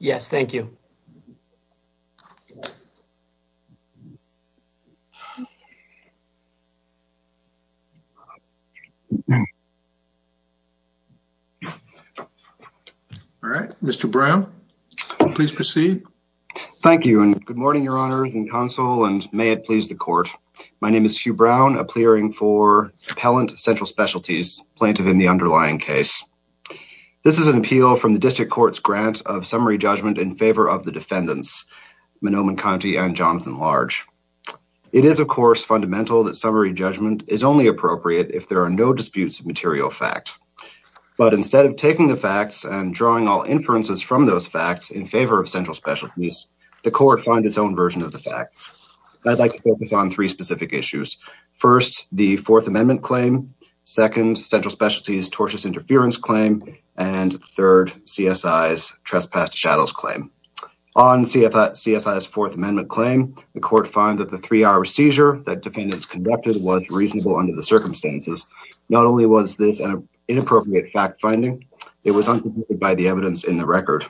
Yes, thank you. All right, Mr. Brown, please proceed. Thank you, and good morning, your honors and counsel, and may it please the court. My name is Hugh Brown, a plearing for Appellant Central Specialties, plaintiff in the underlying case. This is an appeal from the district court's grant of summary judgment in favor of the defendants, Manoman Conti and Jonathan Large. It is, of course, fundamental that summary judgment is only appropriate if there are no disputes of material fact. But instead of taking the facts and drawing all inferences from those facts in favor of Central Specialties, the court finds its own version of the facts. I'd like to focus on three specific issues. First, the Fourth Amendment claim. Second, Central Specialties tortious interference claim. And third, CSI's trespass to shadows claim. On CSI's Fourth Amendment claim, the court found that the three-hour seizure that defendants conducted was reasonable under the circumstances. Not only was this an inappropriate fact finding, it was unproven by the evidence in the record.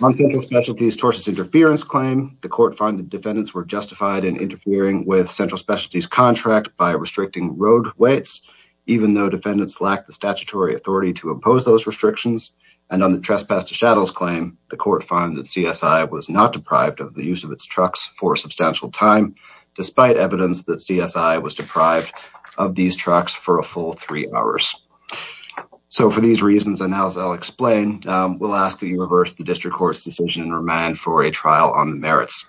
On Central Specialties tortious interference claim, the court found that defendants were justified in interfering with Central Specialties contract by restricting road weights, even though defendants lacked the statutory authority to impose those restrictions. And on the trespass to shadows claim, the court found that CSI was not deprived of the use of its trucks for a substantial time, despite evidence that CSI was deprived of these trucks for a full three hours. So for these reasons, and as I'll explain, we'll ask that you reverse the district court's decision and remand for a trial on the merits.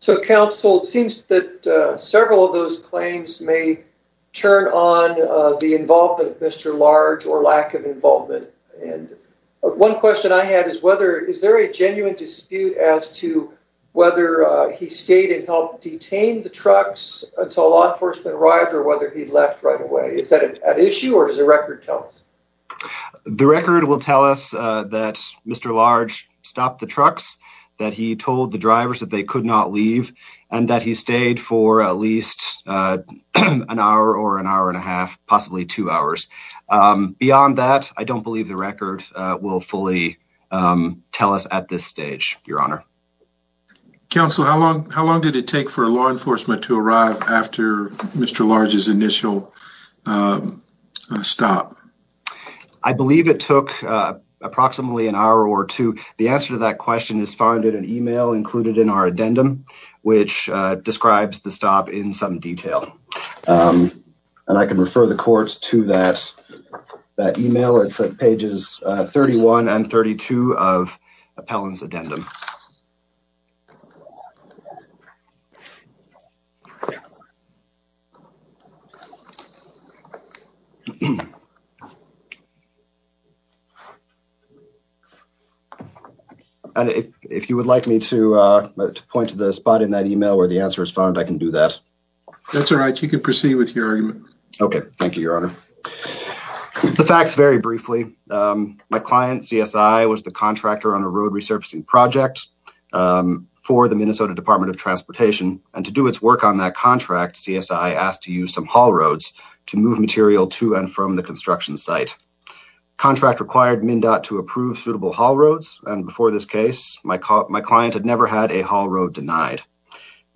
So counsel, it seems that several of those claims may turn on the involvement of Mr. Large or lack of involvement. One question I had is whether, is there a genuine dispute as to whether he stayed and helped detain the trucks until law enforcement arrived or whether he left right away? Is that an issue or does the record tell us? The record will tell us that Mr. Large stopped the trucks, that he told the drivers that they could not leave, and that he stayed for at least an hour or an hour and a half, possibly two hours. Beyond that, I don't believe the record will fully tell us at this stage, Your Honor. Counsel, how long, how long did it take for law enforcement to arrive after Mr. Large's initial stop? I believe it took approximately an hour or two. The answer to that question is found in an email included in our addendum, which describes the stop in some detail. And I can refer the courts to that email, it's at pages 31 and 32 of Appellant's Addendum. If you would like me to point to the spot in that email where the answer is found, I can do that. That's all right. You can proceed with your argument. Okay. Thank you, Your Honor. The facts, very briefly, my client, CSI, was the contractor on a road resurfacing project for the Minnesota Department of Transportation, and to do its work on that contract, CSI asked to use some haul roads to move material to and from the construction site. Contract required MnDOT to approve suitable haul roads, and before this case, my client had never had a haul road denied.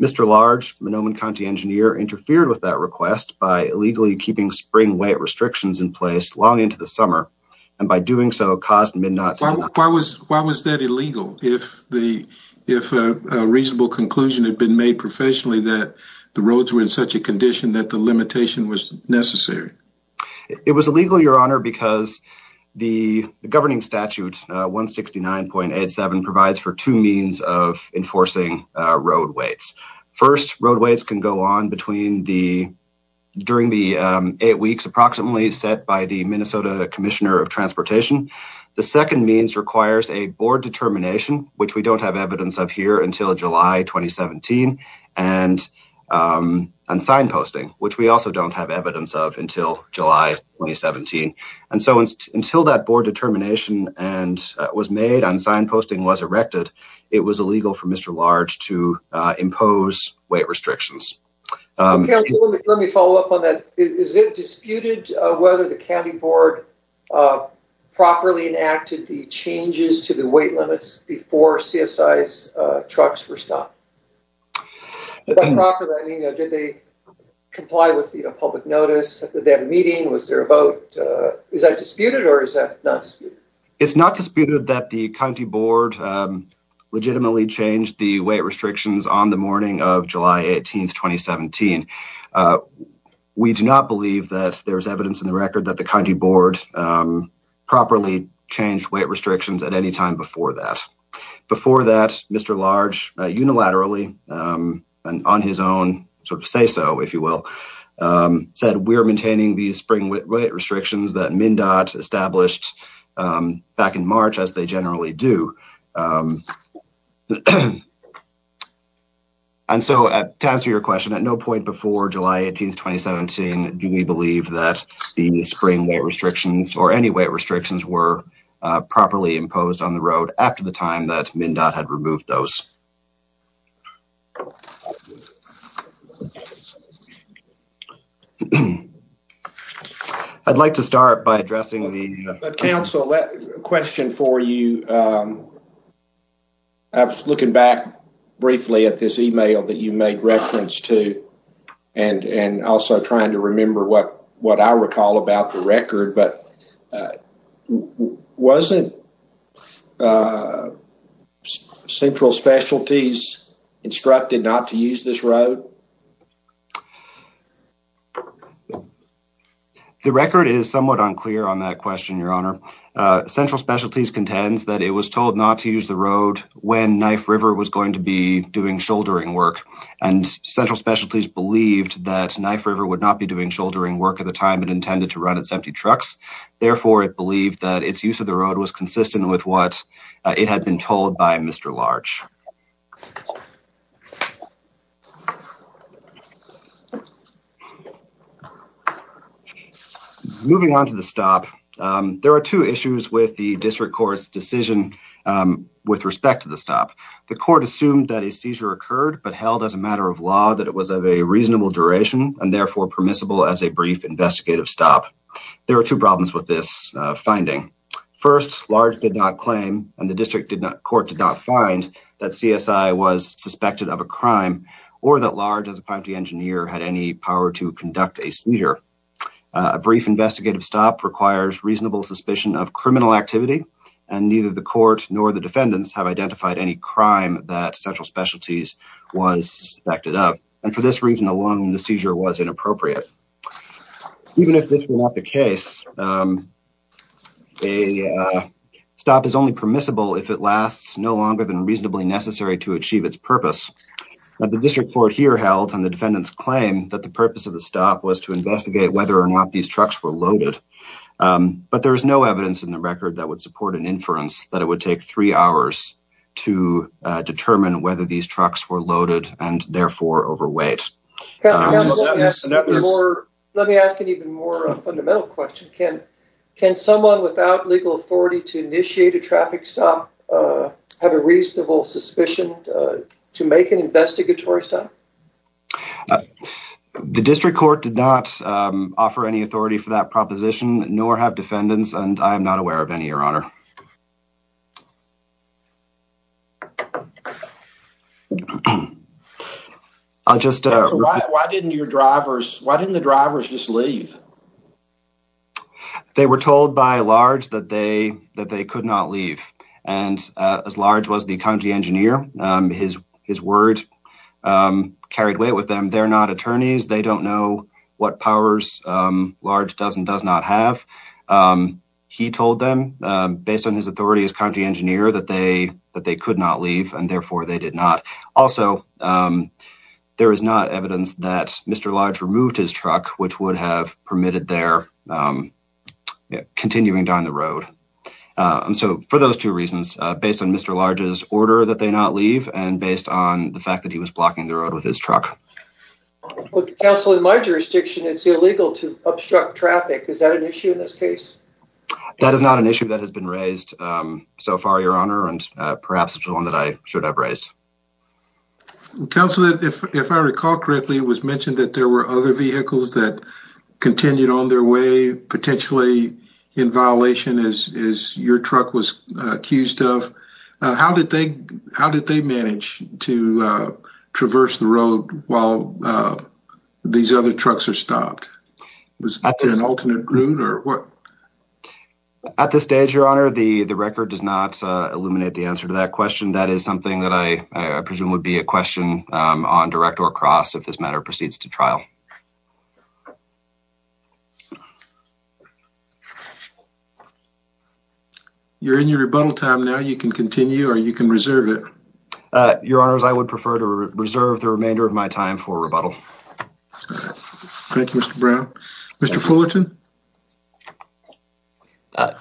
Mr. Large, an Oman County engineer, interfered with that request by illegally keeping spring weight restrictions in place long into the summer, and by doing so, caused MnDOT to deny them. Why was that illegal, if a reasonable conclusion had been made professionally that the roads were in such a condition that the limitation was necessary? It was illegal, Your Honor, because the governing statute, 169.87, provides for two means of road weights. First, road weights can go on during the eight weeks approximately set by the Minnesota Commissioner of Transportation. The second means requires a board determination, which we don't have evidence of here until July 2017, and signposting, which we also don't have evidence of until July 2017. And so, until that board determination was made and signposting was erected, it was illegal for Mr. Large to impose weight restrictions. Let me follow up on that. Is it disputed whether the county board properly enacted the changes to the weight limits before CSI's trucks were stopped? Did they comply with the public notice, did they have a meeting, was there a vote? Is that disputed, or is that not disputed? It's not disputed that the county board legitimately changed the weight restrictions on the morning of July 18th, 2017. We do not believe that there's evidence in the record that the county board properly changed weight restrictions at any time before that. Before that, Mr. Large, unilaterally, and on his own, sort of say so, if you will, said we are maintaining these spring weight restrictions that MnDOT established back in March, as they generally do. And so, to answer your question, at no point before July 18th, 2017, do we believe that the spring weight restrictions, or any weight restrictions, were properly imposed on the I'd like to start by addressing the council question for you. I was looking back briefly at this email that you made reference to, and also trying to remember what I recall about the record, but wasn't central specialties instructed not to use this road? The record is somewhat unclear on that question, your honor. Central specialties contends that it was told not to use the road when Knife River was going to be doing shouldering work, and central specialties believed that Knife River would not be doing shouldering work at the time it intended to run its empty trucks. Therefore, it believed that its use of the road was consistent with what it had been told by Mr. Larch. Moving on to the stop. There are two issues with the district court's decision with respect to the stop. The court assumed that a seizure occurred, but held as a matter of law that it was of a reasonable duration, and therefore permissible as a brief investigative stop. There are two problems with this finding. First, Larch did not claim, and the district court did not find, that CSI was suspected of a crime, or that Larch, as a property engineer, had any power to conduct a seizure. A brief investigative stop requires reasonable suspicion of criminal activity, and neither the court nor the defendants have identified any crime that central specialties was suspected of. And for this reason alone, the seizure was inappropriate. Even if this were not the case, a stop is only permissible if it lasts no longer than reasonably necessary to achieve its purpose. The district court here held, and the defendants claim, that the purpose of the stop was to investigate whether or not these trucks were loaded. But there is no evidence in the record that would support an inference that it would take three hours to determine whether these trucks were loaded, and therefore overweight. Let me ask an even more fundamental question. Can someone without legal authority to initiate a traffic stop have a reasonable suspicion to make an investigatory stop? The district court did not offer any authority for that proposition, nor have defendants, and I am not aware of any, your honor. Why didn't the drivers just leave? They were told by Large that they could not leave, and as Large was the county engineer, his word carried weight with them. They're not attorneys. They don't know what powers Large does and does not have. He told them, based on his authority as county engineer, that they could not leave, and therefore they did not. Also, there is not evidence that Mr. Large removed his truck, which would have permitted their continuing down the road. So for those two reasons, based on Mr. Large's order that they not leave, and based on the fact that he was blocking the road with his truck. Counsel, in my jurisdiction, it's illegal to obstruct traffic. Is that an issue in this case? That is not an issue that has been raised so far, your honor, and perhaps one that I should have raised. Counsel, if I recall correctly, it was mentioned that there were other vehicles that continued on their way, potentially in violation, as your truck was accused of. How did they manage to traverse the road while these other trucks are stopped? Was there an alternate route? At this stage, your honor, the record does not illuminate the answer to that question. That is something that I presume would be a question on direct or across if this matter proceeds to trial. You're in your rebuttal time now. You can continue or you can reserve it. Your honors, I would prefer to reserve the remainder of my time for rebuttal. Thank you, Mr. Brown. Mr. Fullerton.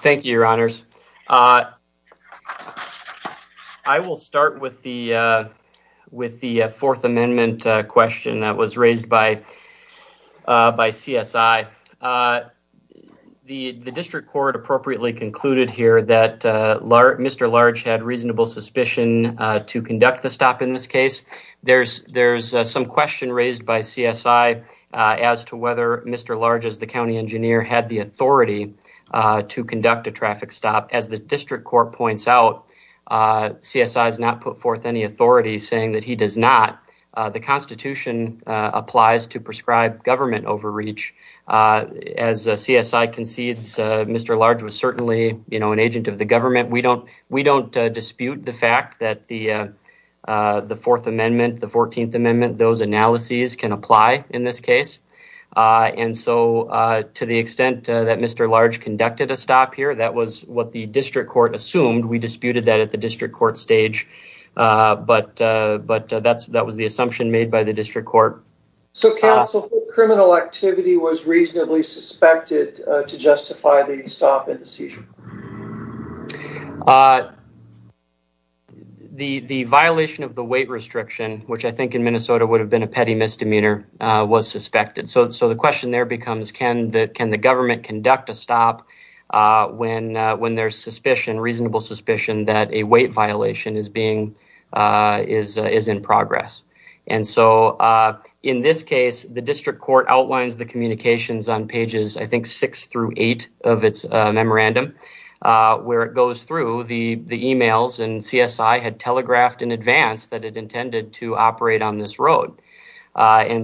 Thank you, your honors. I will start with the fourth amendment question that was raised by CSI. The district court appropriately concluded here that Mr. Large had reasonable suspicion to conduct the stop in this case. There's some question raised by CSI as to whether Mr. Large, as the county engineer, had the authority to conduct a traffic stop. As the district court points out, CSI has not put forth any authority saying that he does not. The constitution applies to prescribe government overreach. As CSI concedes, Mr. Large was certainly an agent of the government. We don't dispute the fact that the fourth amendment, the 14th amendment, those analyses can apply in this case. To the extent that Mr. Large conducted a stop here, that was what the district court assumed. We disputed that at the district court stage, but that was the assumption made by the district court. So, counsel, criminal activity was reasonably suspected to justify the stop in the seizure? The violation of the weight restriction, which I think in Minnesota would have been a petty misdemeanor, was suspected. So the question there becomes, can the government conduct a stop when there's suspicion, reasonable suspicion that a weight violation is in progress? In this case, the district court outlines the communications on pages six through eight of its memorandum. Where it goes through, the emails and CSI had telegraphed in advance that it intended to operate on this road. In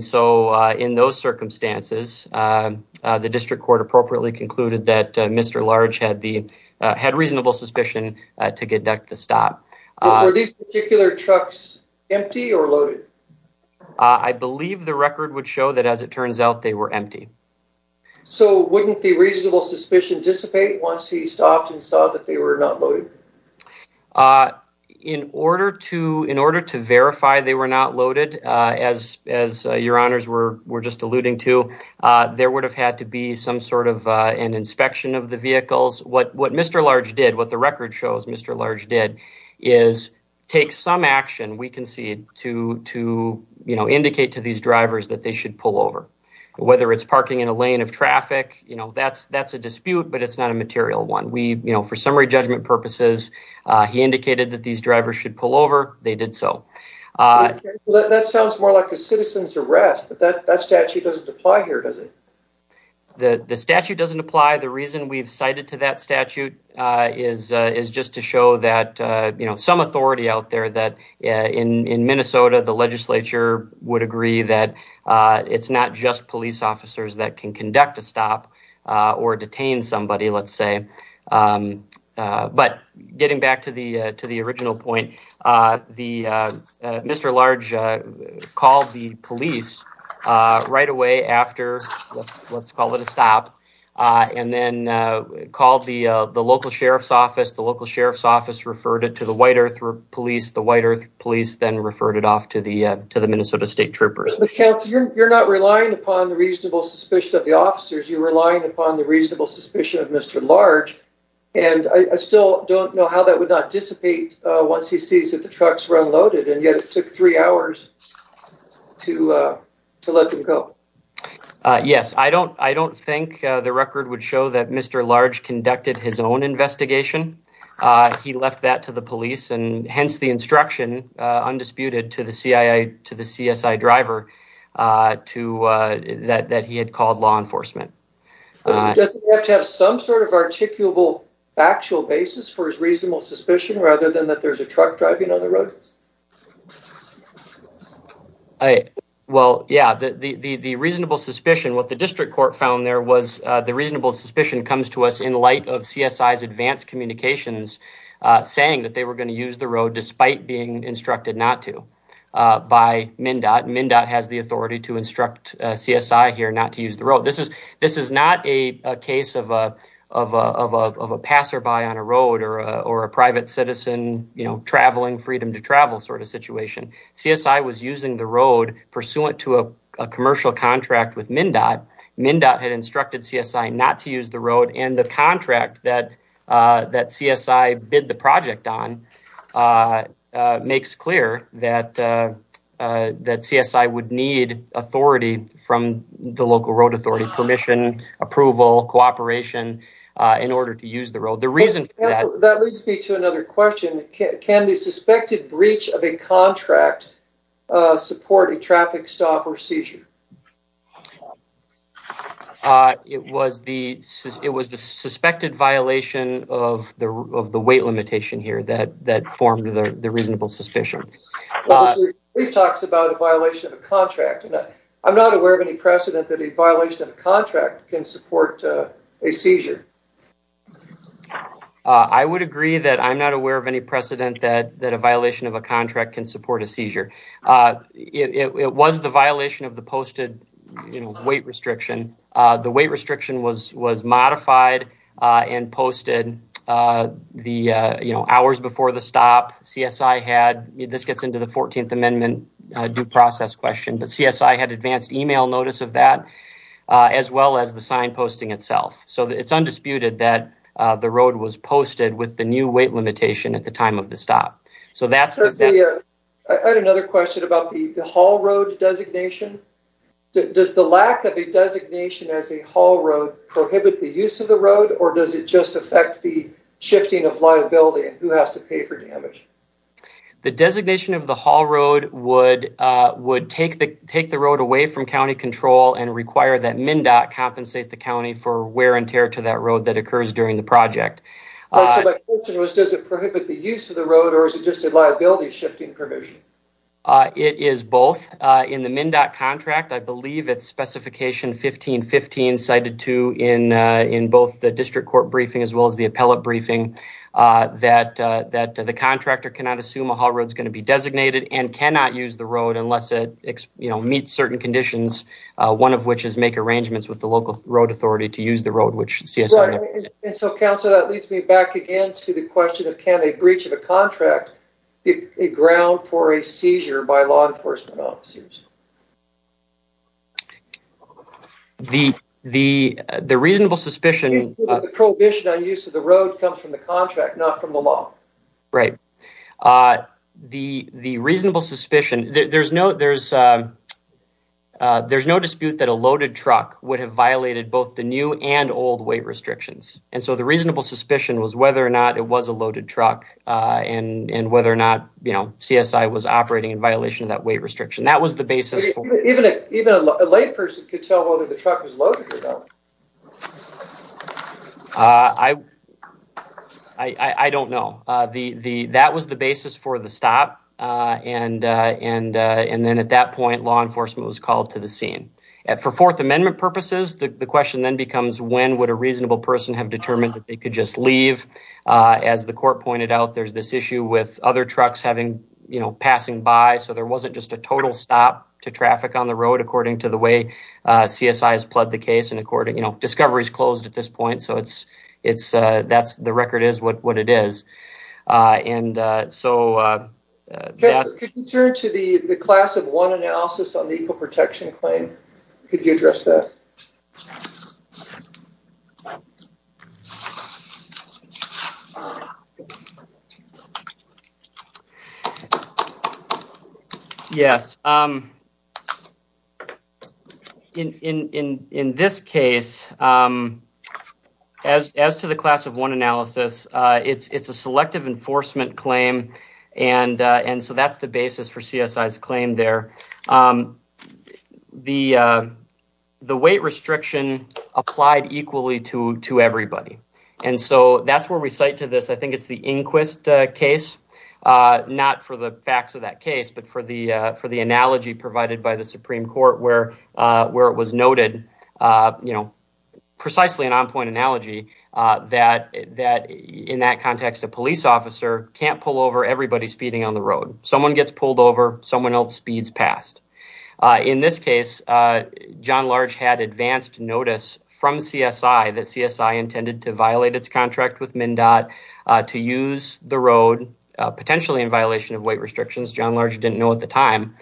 those circumstances, the district court appropriately concluded that Mr. Large had reasonable suspicion to conduct the stop. Were these particular trucks empty or loaded? I believe the record would show that as it turns out, they were empty. So wouldn't the reasonable suspicion dissipate once he stopped and saw that they were not loaded? In order to verify they were not loaded, as your honors were just alluding to, there would have had to be some sort of an inspection of the vehicles. What Mr. Large did, what the record shows Mr. Large did, is take some action, we can see it, to indicate to these drivers that they should pull over. Whether it's parking in a lane of traffic, that's a dispute, but it's not a material one. For summary judgment purposes, he indicated that these drivers should pull over. They did so. That sounds more like a citizen's arrest, but that statute doesn't apply here, does it? The statute doesn't apply. The reason we've cited to that statute is just to show that some authority out there that in Minnesota, the legislature would agree that it's not just police officers that can conduct a stop or detain somebody, let's say. But getting back to the original point, Mr. Large called the police right away after, let's call it a stop, and then called the local sheriff's office, the local sheriff's office referred it to the White Earth Police, the White Earth Police then referred it off to the Minnesota State Troopers. But Counselor, you're not relying upon the reasonable suspicion of the officers, you're relying upon the reasonable suspicion of Mr. Large, and I still don't know how that would not dissipate once he sees that the trucks were unloaded, and yet it took three hours to let them go. Yes, I don't think the record would show that Mr. Large conducted his own investigation. He left that to the police, and hence the instruction, undisputed, to the CSI driver that he had called law enforcement. Does he have to have some sort of articulable factual basis for his reasonable suspicion rather than that there's a truck driving on the road? Well, yeah, the reasonable suspicion, what the district court found there was the reasonable suspicion comes to us in light of CSI's advanced communications saying that they were going to use the road despite being instructed not to by MnDOT. MnDOT has the authority to instruct CSI here not to use the road. This is not a case of a passerby on a road or a private citizen, you know, traveling freedom to travel sort of situation. CSI was using the road pursuant to a commercial contract with MnDOT. MnDOT had instructed CSI not to use the road, and the contract that CSI bid the project on makes clear that CSI would need authority from the local road authority, permission, approval, cooperation, in order to use the road. That leads me to another question. Can the suspected breach of a contract support a traffic stop or seizure? It was the suspected violation of the weight limitation here that formed the reasonable suspicion. We've talked about a violation of a contract, and I'm not aware of any precedent that a I would agree that I'm not aware of any precedent that a violation of a contract can support a seizure. It was the violation of the posted weight restriction. The weight restriction was modified and posted the, you know, hours before the stop. CSI had, this gets into the 14th Amendment due process question, but CSI had advanced email notice of that, as well as the signposting itself. So it's undisputed that the road was posted with the new weight limitation at the time of the stop. So that's the answer. I had another question about the haul road designation. Does the lack of a designation as a haul road prohibit the use of the road, or does it just affect the shifting of liability and who has to pay for damage? The designation of the haul road would take the road away from county control and require that MnDOT compensate the county for wear and tear to that road that occurs during the project. Oh, so the question was, does it prohibit the use of the road, or is it just a liability shifting provision? It is both. In the MnDOT contract, I believe it's specification 1515 cited to in both the district court briefing as well as the appellate briefing, that the contractor cannot assume a haul road is going to be designated and cannot use the road unless it meets certain conditions, one of which is make arrangements with the local road authority to use the road, which CSI. Right, and so, Councillor, that leads me back again to the question of, can a breach of a contract be a ground for a seizure by law enforcement officers? The reasonable suspicion- The prohibition on use of the road comes from the contract, not from the law. Right. The reasonable suspicion, there's no dispute that a loaded truck would have violated both the new and old weight restrictions, and so the reasonable suspicion was whether or not it was a loaded truck and whether or not, you know, CSI was operating in violation of that weight restriction. That was the basis- Even a layperson could tell whether the truck was loaded or not. I don't know. That was the basis for the stop, and then at that point, law enforcement was called to the scene. For Fourth Amendment purposes, the question then becomes, when would a reasonable person have determined that they could just leave? As the court pointed out, there's this issue with other trucks having, you know, passing by, so there wasn't just a total stop to traffic on the road, according to the way CSI has And so- Could you turn to the class of one analysis on the eco-protection claim? Could you address that? Yes. So, in this case, as to the class of one analysis, it's a selective enforcement claim, and so that's the basis for CSI's claim there. The weight restriction applied equally to everybody, and so that's where we cite to this, I think it's the Inquist case, not for the facts of that case, but for the analogy provided by the Supreme Court, where it was noted, you know, precisely an on-point analogy, that in that context, a police officer can't pull over everybody speeding on the road. Someone gets pulled over, someone else speeds past. In this case, John Large had advanced notice from CSI that CSI intended to violate its contract with MnDOT to use the road, potentially in violation of weight restrictions. John Large didn't know at the time,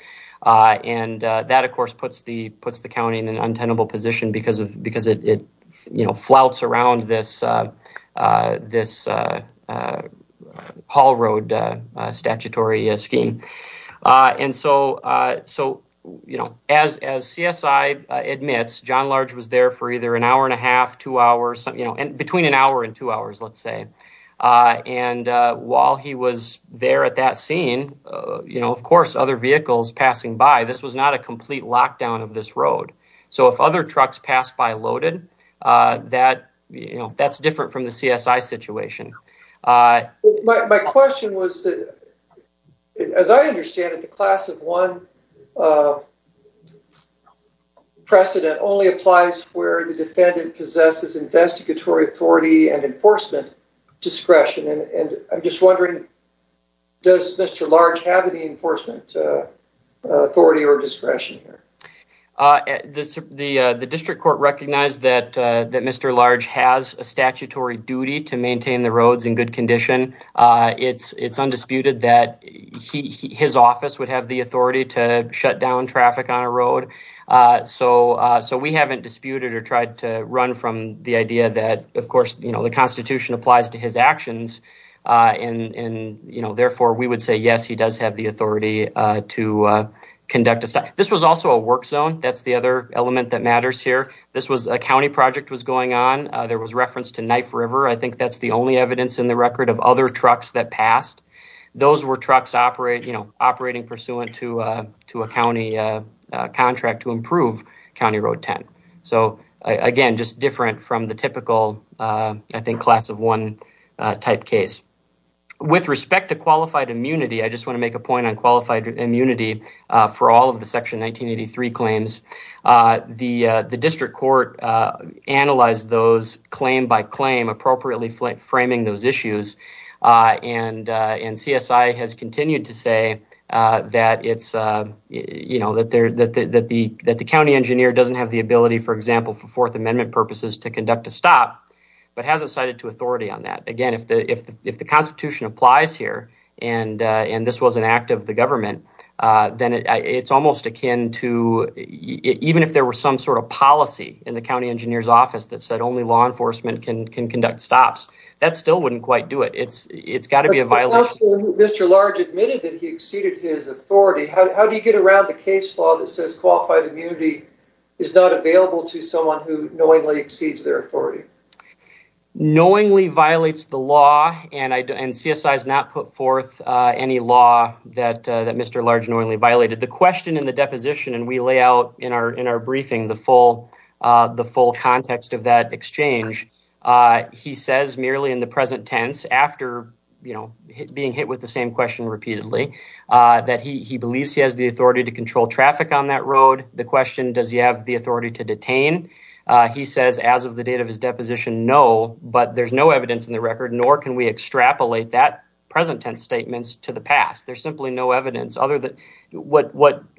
and that, of course, puts the county in an untenable position because it flouts around this Hall Road statutory scheme. And so, as CSI admits, John Large was there for either an hour and a half, two hours, between an hour and two hours, let's say. And while he was there at that scene, you know, of course, other vehicles passing by, this was not a complete lockdown of this road. So if other trucks pass by loaded, that's different from the CSI situation. My question was, as I understand it, the class of one precedent only applies where the defendant possesses investigatory authority and enforcement discretion. And I'm just wondering, does Mr. Large have any enforcement authority or discretion here? The district court recognized that Mr. Large has a statutory duty to maintain the roads in good condition. It's undisputed that his office would have the authority to shut down traffic on a road. So we haven't disputed or tried to run from the idea that, of course, you know, the Constitution applies to his actions. And, you know, therefore, we would say, yes, he does have the authority to conduct a stop. This was also a work zone. That's the other element that matters here. This was a county project was going on. There was reference to Knife River. I think that's the only evidence in the record of other trucks that passed. Those were trucks operating pursuant to a county contract to improve County Road 10. So again, just different from the typical, I think, class of one type case. With respect to qualified immunity, I just want to make a point on qualified immunity for all of the Section 1983 claims. The district court analyzed those claim by claim appropriately framing those issues. And CSI has continued to say that it's, you know, that the county engineer doesn't have the ability, for example, for Fourth Amendment purposes to conduct a stop, but hasn't cited to authority on that. Again, if the Constitution applies here and this was an act of the government, then it's almost akin to even if there were some sort of policy in the county engineer's office that said only law enforcement can conduct stops, that still wouldn't quite do it. It's got to be a violation. Mr. Large admitted that he exceeded his authority. How do you get around the case law that says qualified immunity is not available to someone who knowingly exceeds their authority? Knowingly violates the law, and CSI has not put forth any law that Mr. Large knowingly violated. The question in the deposition, and we lay out in our briefing the full context of that exchange, he says merely in the present tense after, you know, being hit with the same question repeatedly, that he believes he has the authority to control traffic on that road. The question, does he have the authority to detain? He says as of the date of his deposition, no, but there's no evidence in the record, nor can we extrapolate that present tense statements to the past. There's simply no evidence other than what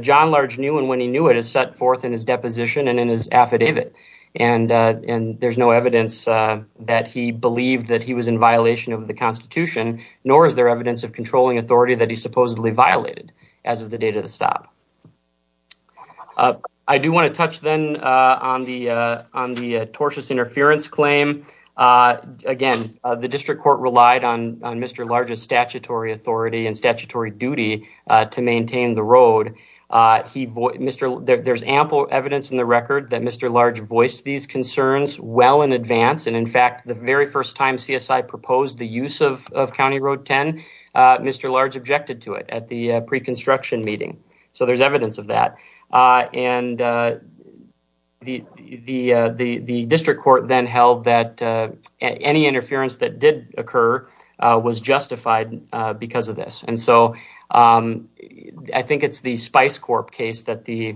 John Large knew, and when he knew it, is set forth in his deposition and in his affidavit. And there's no evidence that he believed that he was in violation of the Constitution, nor is there evidence of controlling authority that he supposedly violated as of the date of the stop. I do want to touch then on the tortious interference claim. Again, the district court relied on Mr. Large's statutory authority and statutory duty to maintain the road. There's ample evidence in the record that Mr. Large voiced these concerns well in advance, and in fact, the very first time CSI proposed the use of County Road 10, Mr. Large objected to it at the pre-construction meeting. So there's evidence of that. And the district court then held that any interference that did occur was justified because of this. And so I think it's the Spice Corp case that the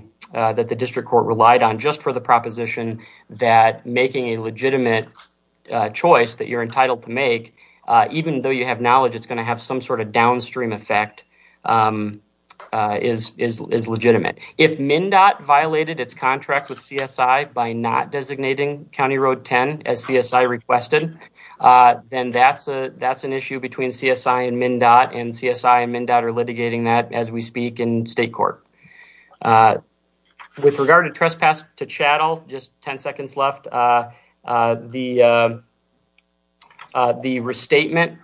district court relied on just for the proposition that making a legitimate choice that you're entitled to make, even though you have knowledge it's going to have some sort of downstream effect, is legitimate. If MnDOT violated its contract with CSI by not designating County Road 10 as CSI requested, then that's an issue between CSI and MnDOT, and CSI and MnDOT are litigating that as we speak in state court. With regard to trespass to chattel, just 10 seconds left, the restatement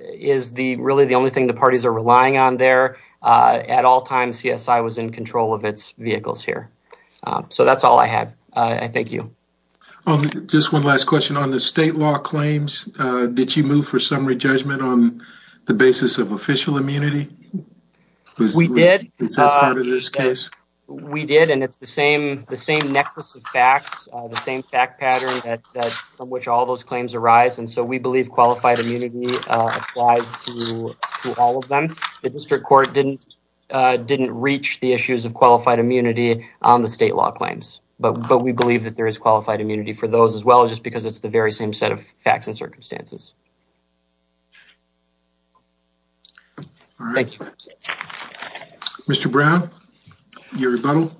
is really the only thing the parties are relying on there. At all times, CSI was in control of its vehicles here. So that's all I have. I thank you. Just one last question. On the state law claims, did you move for summary judgment on the basis of official immunity? We did. We did, and it's the same necklace of facts, the same fact pattern from which all those claims arise. And so we believe qualified immunity applies to all of them. The district court didn't reach the issues of qualified immunity on the state law claims, but we believe that there is qualified immunity for those as well, just because it's the very same set of facts and circumstances. All right. Thank you. Mr. Brown, your rebuttal.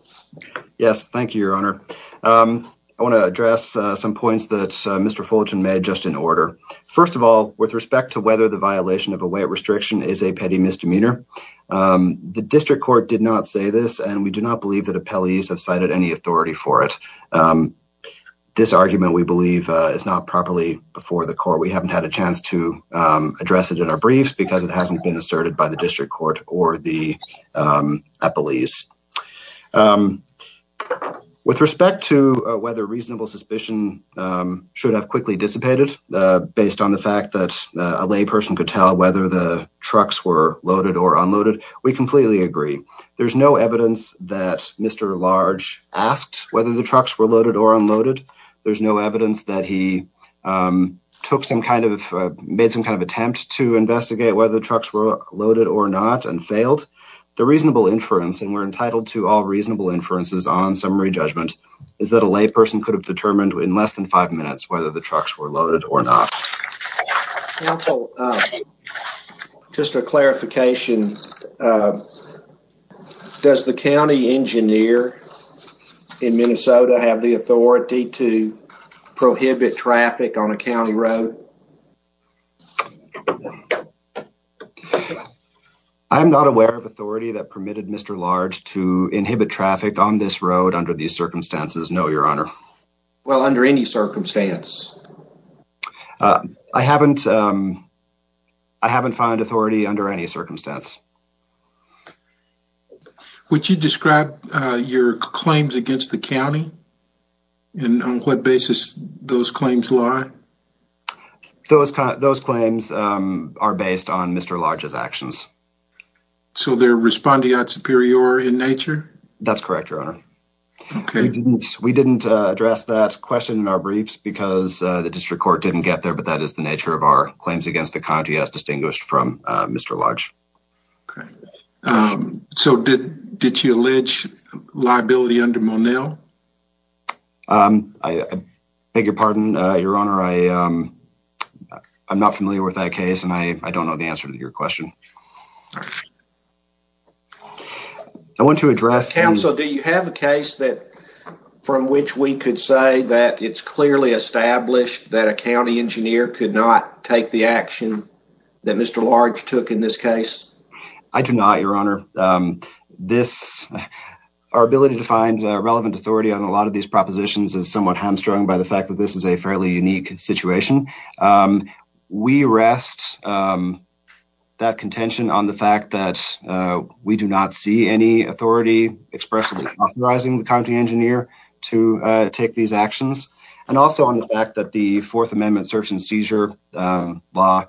Yes, thank you, Your Honor. First of all, with respect to whether the violation of a weight restriction is a petty misdemeanor, the district court did not say this, and we do not believe that appellees have cited any authority for it. This argument, we believe, is not properly before the court. We haven't had a chance to address it in our briefs, because it hasn't been asserted by the district court or the appellees. With respect to whether reasonable suspicion should have quickly dissipated, based on the fact that a layperson could tell whether the trucks were loaded or unloaded, we completely agree. There's no evidence that Mr. Large asked whether the trucks were loaded or unloaded. There's no evidence that he made some kind of attempt to investigate whether the trucks were loaded or not and failed. The reasonable inference, and we're entitled to all reasonable inferences on summary judgment, is that a layperson could have determined in less than five minutes whether the trucks were loaded or not. Counsel, just a clarification. Does the county engineer in Minnesota have the authority to prohibit traffic on a county road? I'm not aware of authority that permitted Mr. Large to inhibit traffic on this road under these circumstances, no, your honor. Well, under any circumstance? I haven't found authority under any circumstance. Would you describe your claims against the county and on what basis those claims lie? Those claims are based on Mr. Large's actions. So they're respondeat superior in nature? That's correct, your honor. Okay. We didn't address that question in our briefs because the district court didn't get there, but that is the nature of our claims against the county as distinguished from Mr. Large. Okay. So did you allege liability under Monell? I beg your pardon, your honor. I'm not familiar with that case and I don't know the answer to your question. I want to address- Do you have a case from which we could say that it's clearly established that a county engineer could not take the action that Mr. Large took in this case? I do not, your honor. Our ability to find relevant authority on a lot of these propositions is somewhat hamstrung by the fact that this is a fairly unique situation. We rest that contention on the fact that we do not see any authority expressly authorizing the county engineer to take these actions. And also on the fact that the Fourth Amendment search and seizure law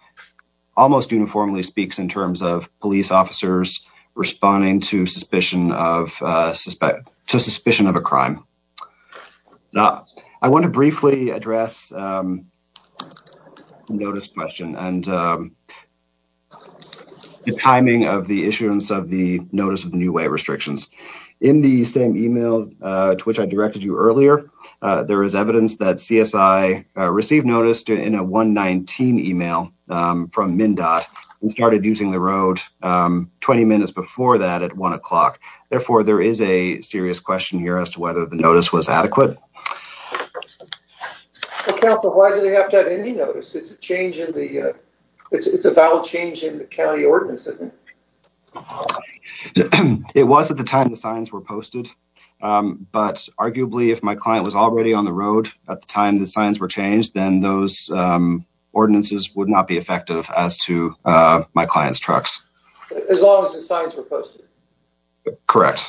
almost uniformly speaks in terms of police officers responding to suspicion of a crime. Okay. I want to briefly address the notice question and the timing of the issuance of the notice of new way restrictions. In the same email to which I directed you earlier, there is evidence that CSI received notice in a 119 email from MnDOT and started using the road 20 minutes before that at one o'clock. Therefore, there is a serious question here as to whether the notice was adequate. Well, counsel, why do they have to have any notice? It's a change in the, it's a valid change in the county ordinance, isn't it? It was at the time the signs were posted. But arguably, if my client was already on the road at the time the signs were changed, then those ordinances would not be effective as to my client's trucks. As long as the signs were posted. Correct.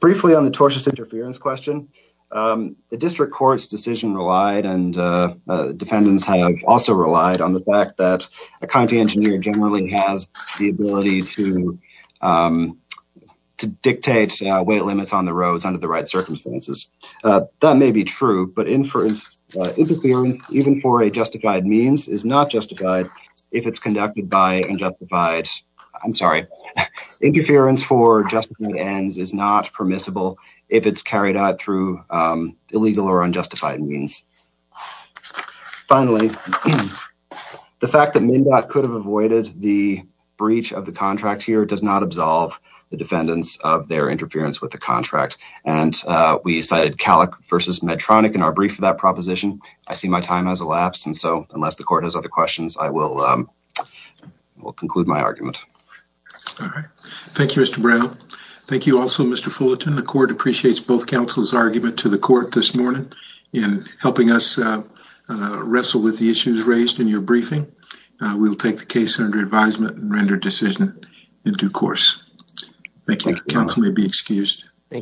Briefly on the tortious interference question. The district court's decision relied and defendants have also relied on the fact that a county engineer generally has the ability to dictate weight limits on the roads under the right circumstances. That may be true, but inference, even for a justified means is not justified if it's conducted by unjustified. I'm sorry, interference for just ends is not permissible. If it's carried out through illegal or unjustified means. Finally, the fact that MnDOT could have avoided the breach of the contract here does not absolve the defendants of their interference with the contract. And we cited Calic versus Medtronic in our brief for that proposition. I see my time has elapsed. Unless the court has other questions, I will conclude my argument. All right. Thank you, Mr. Brown. Thank you also, Mr. Fullerton. The court appreciates both counsel's argument to the court this morning in helping us wrestle with the issues raised in your briefing. We'll take the case under advisement and render decision in due course. Thank you. Counsel may be excused. Thank you.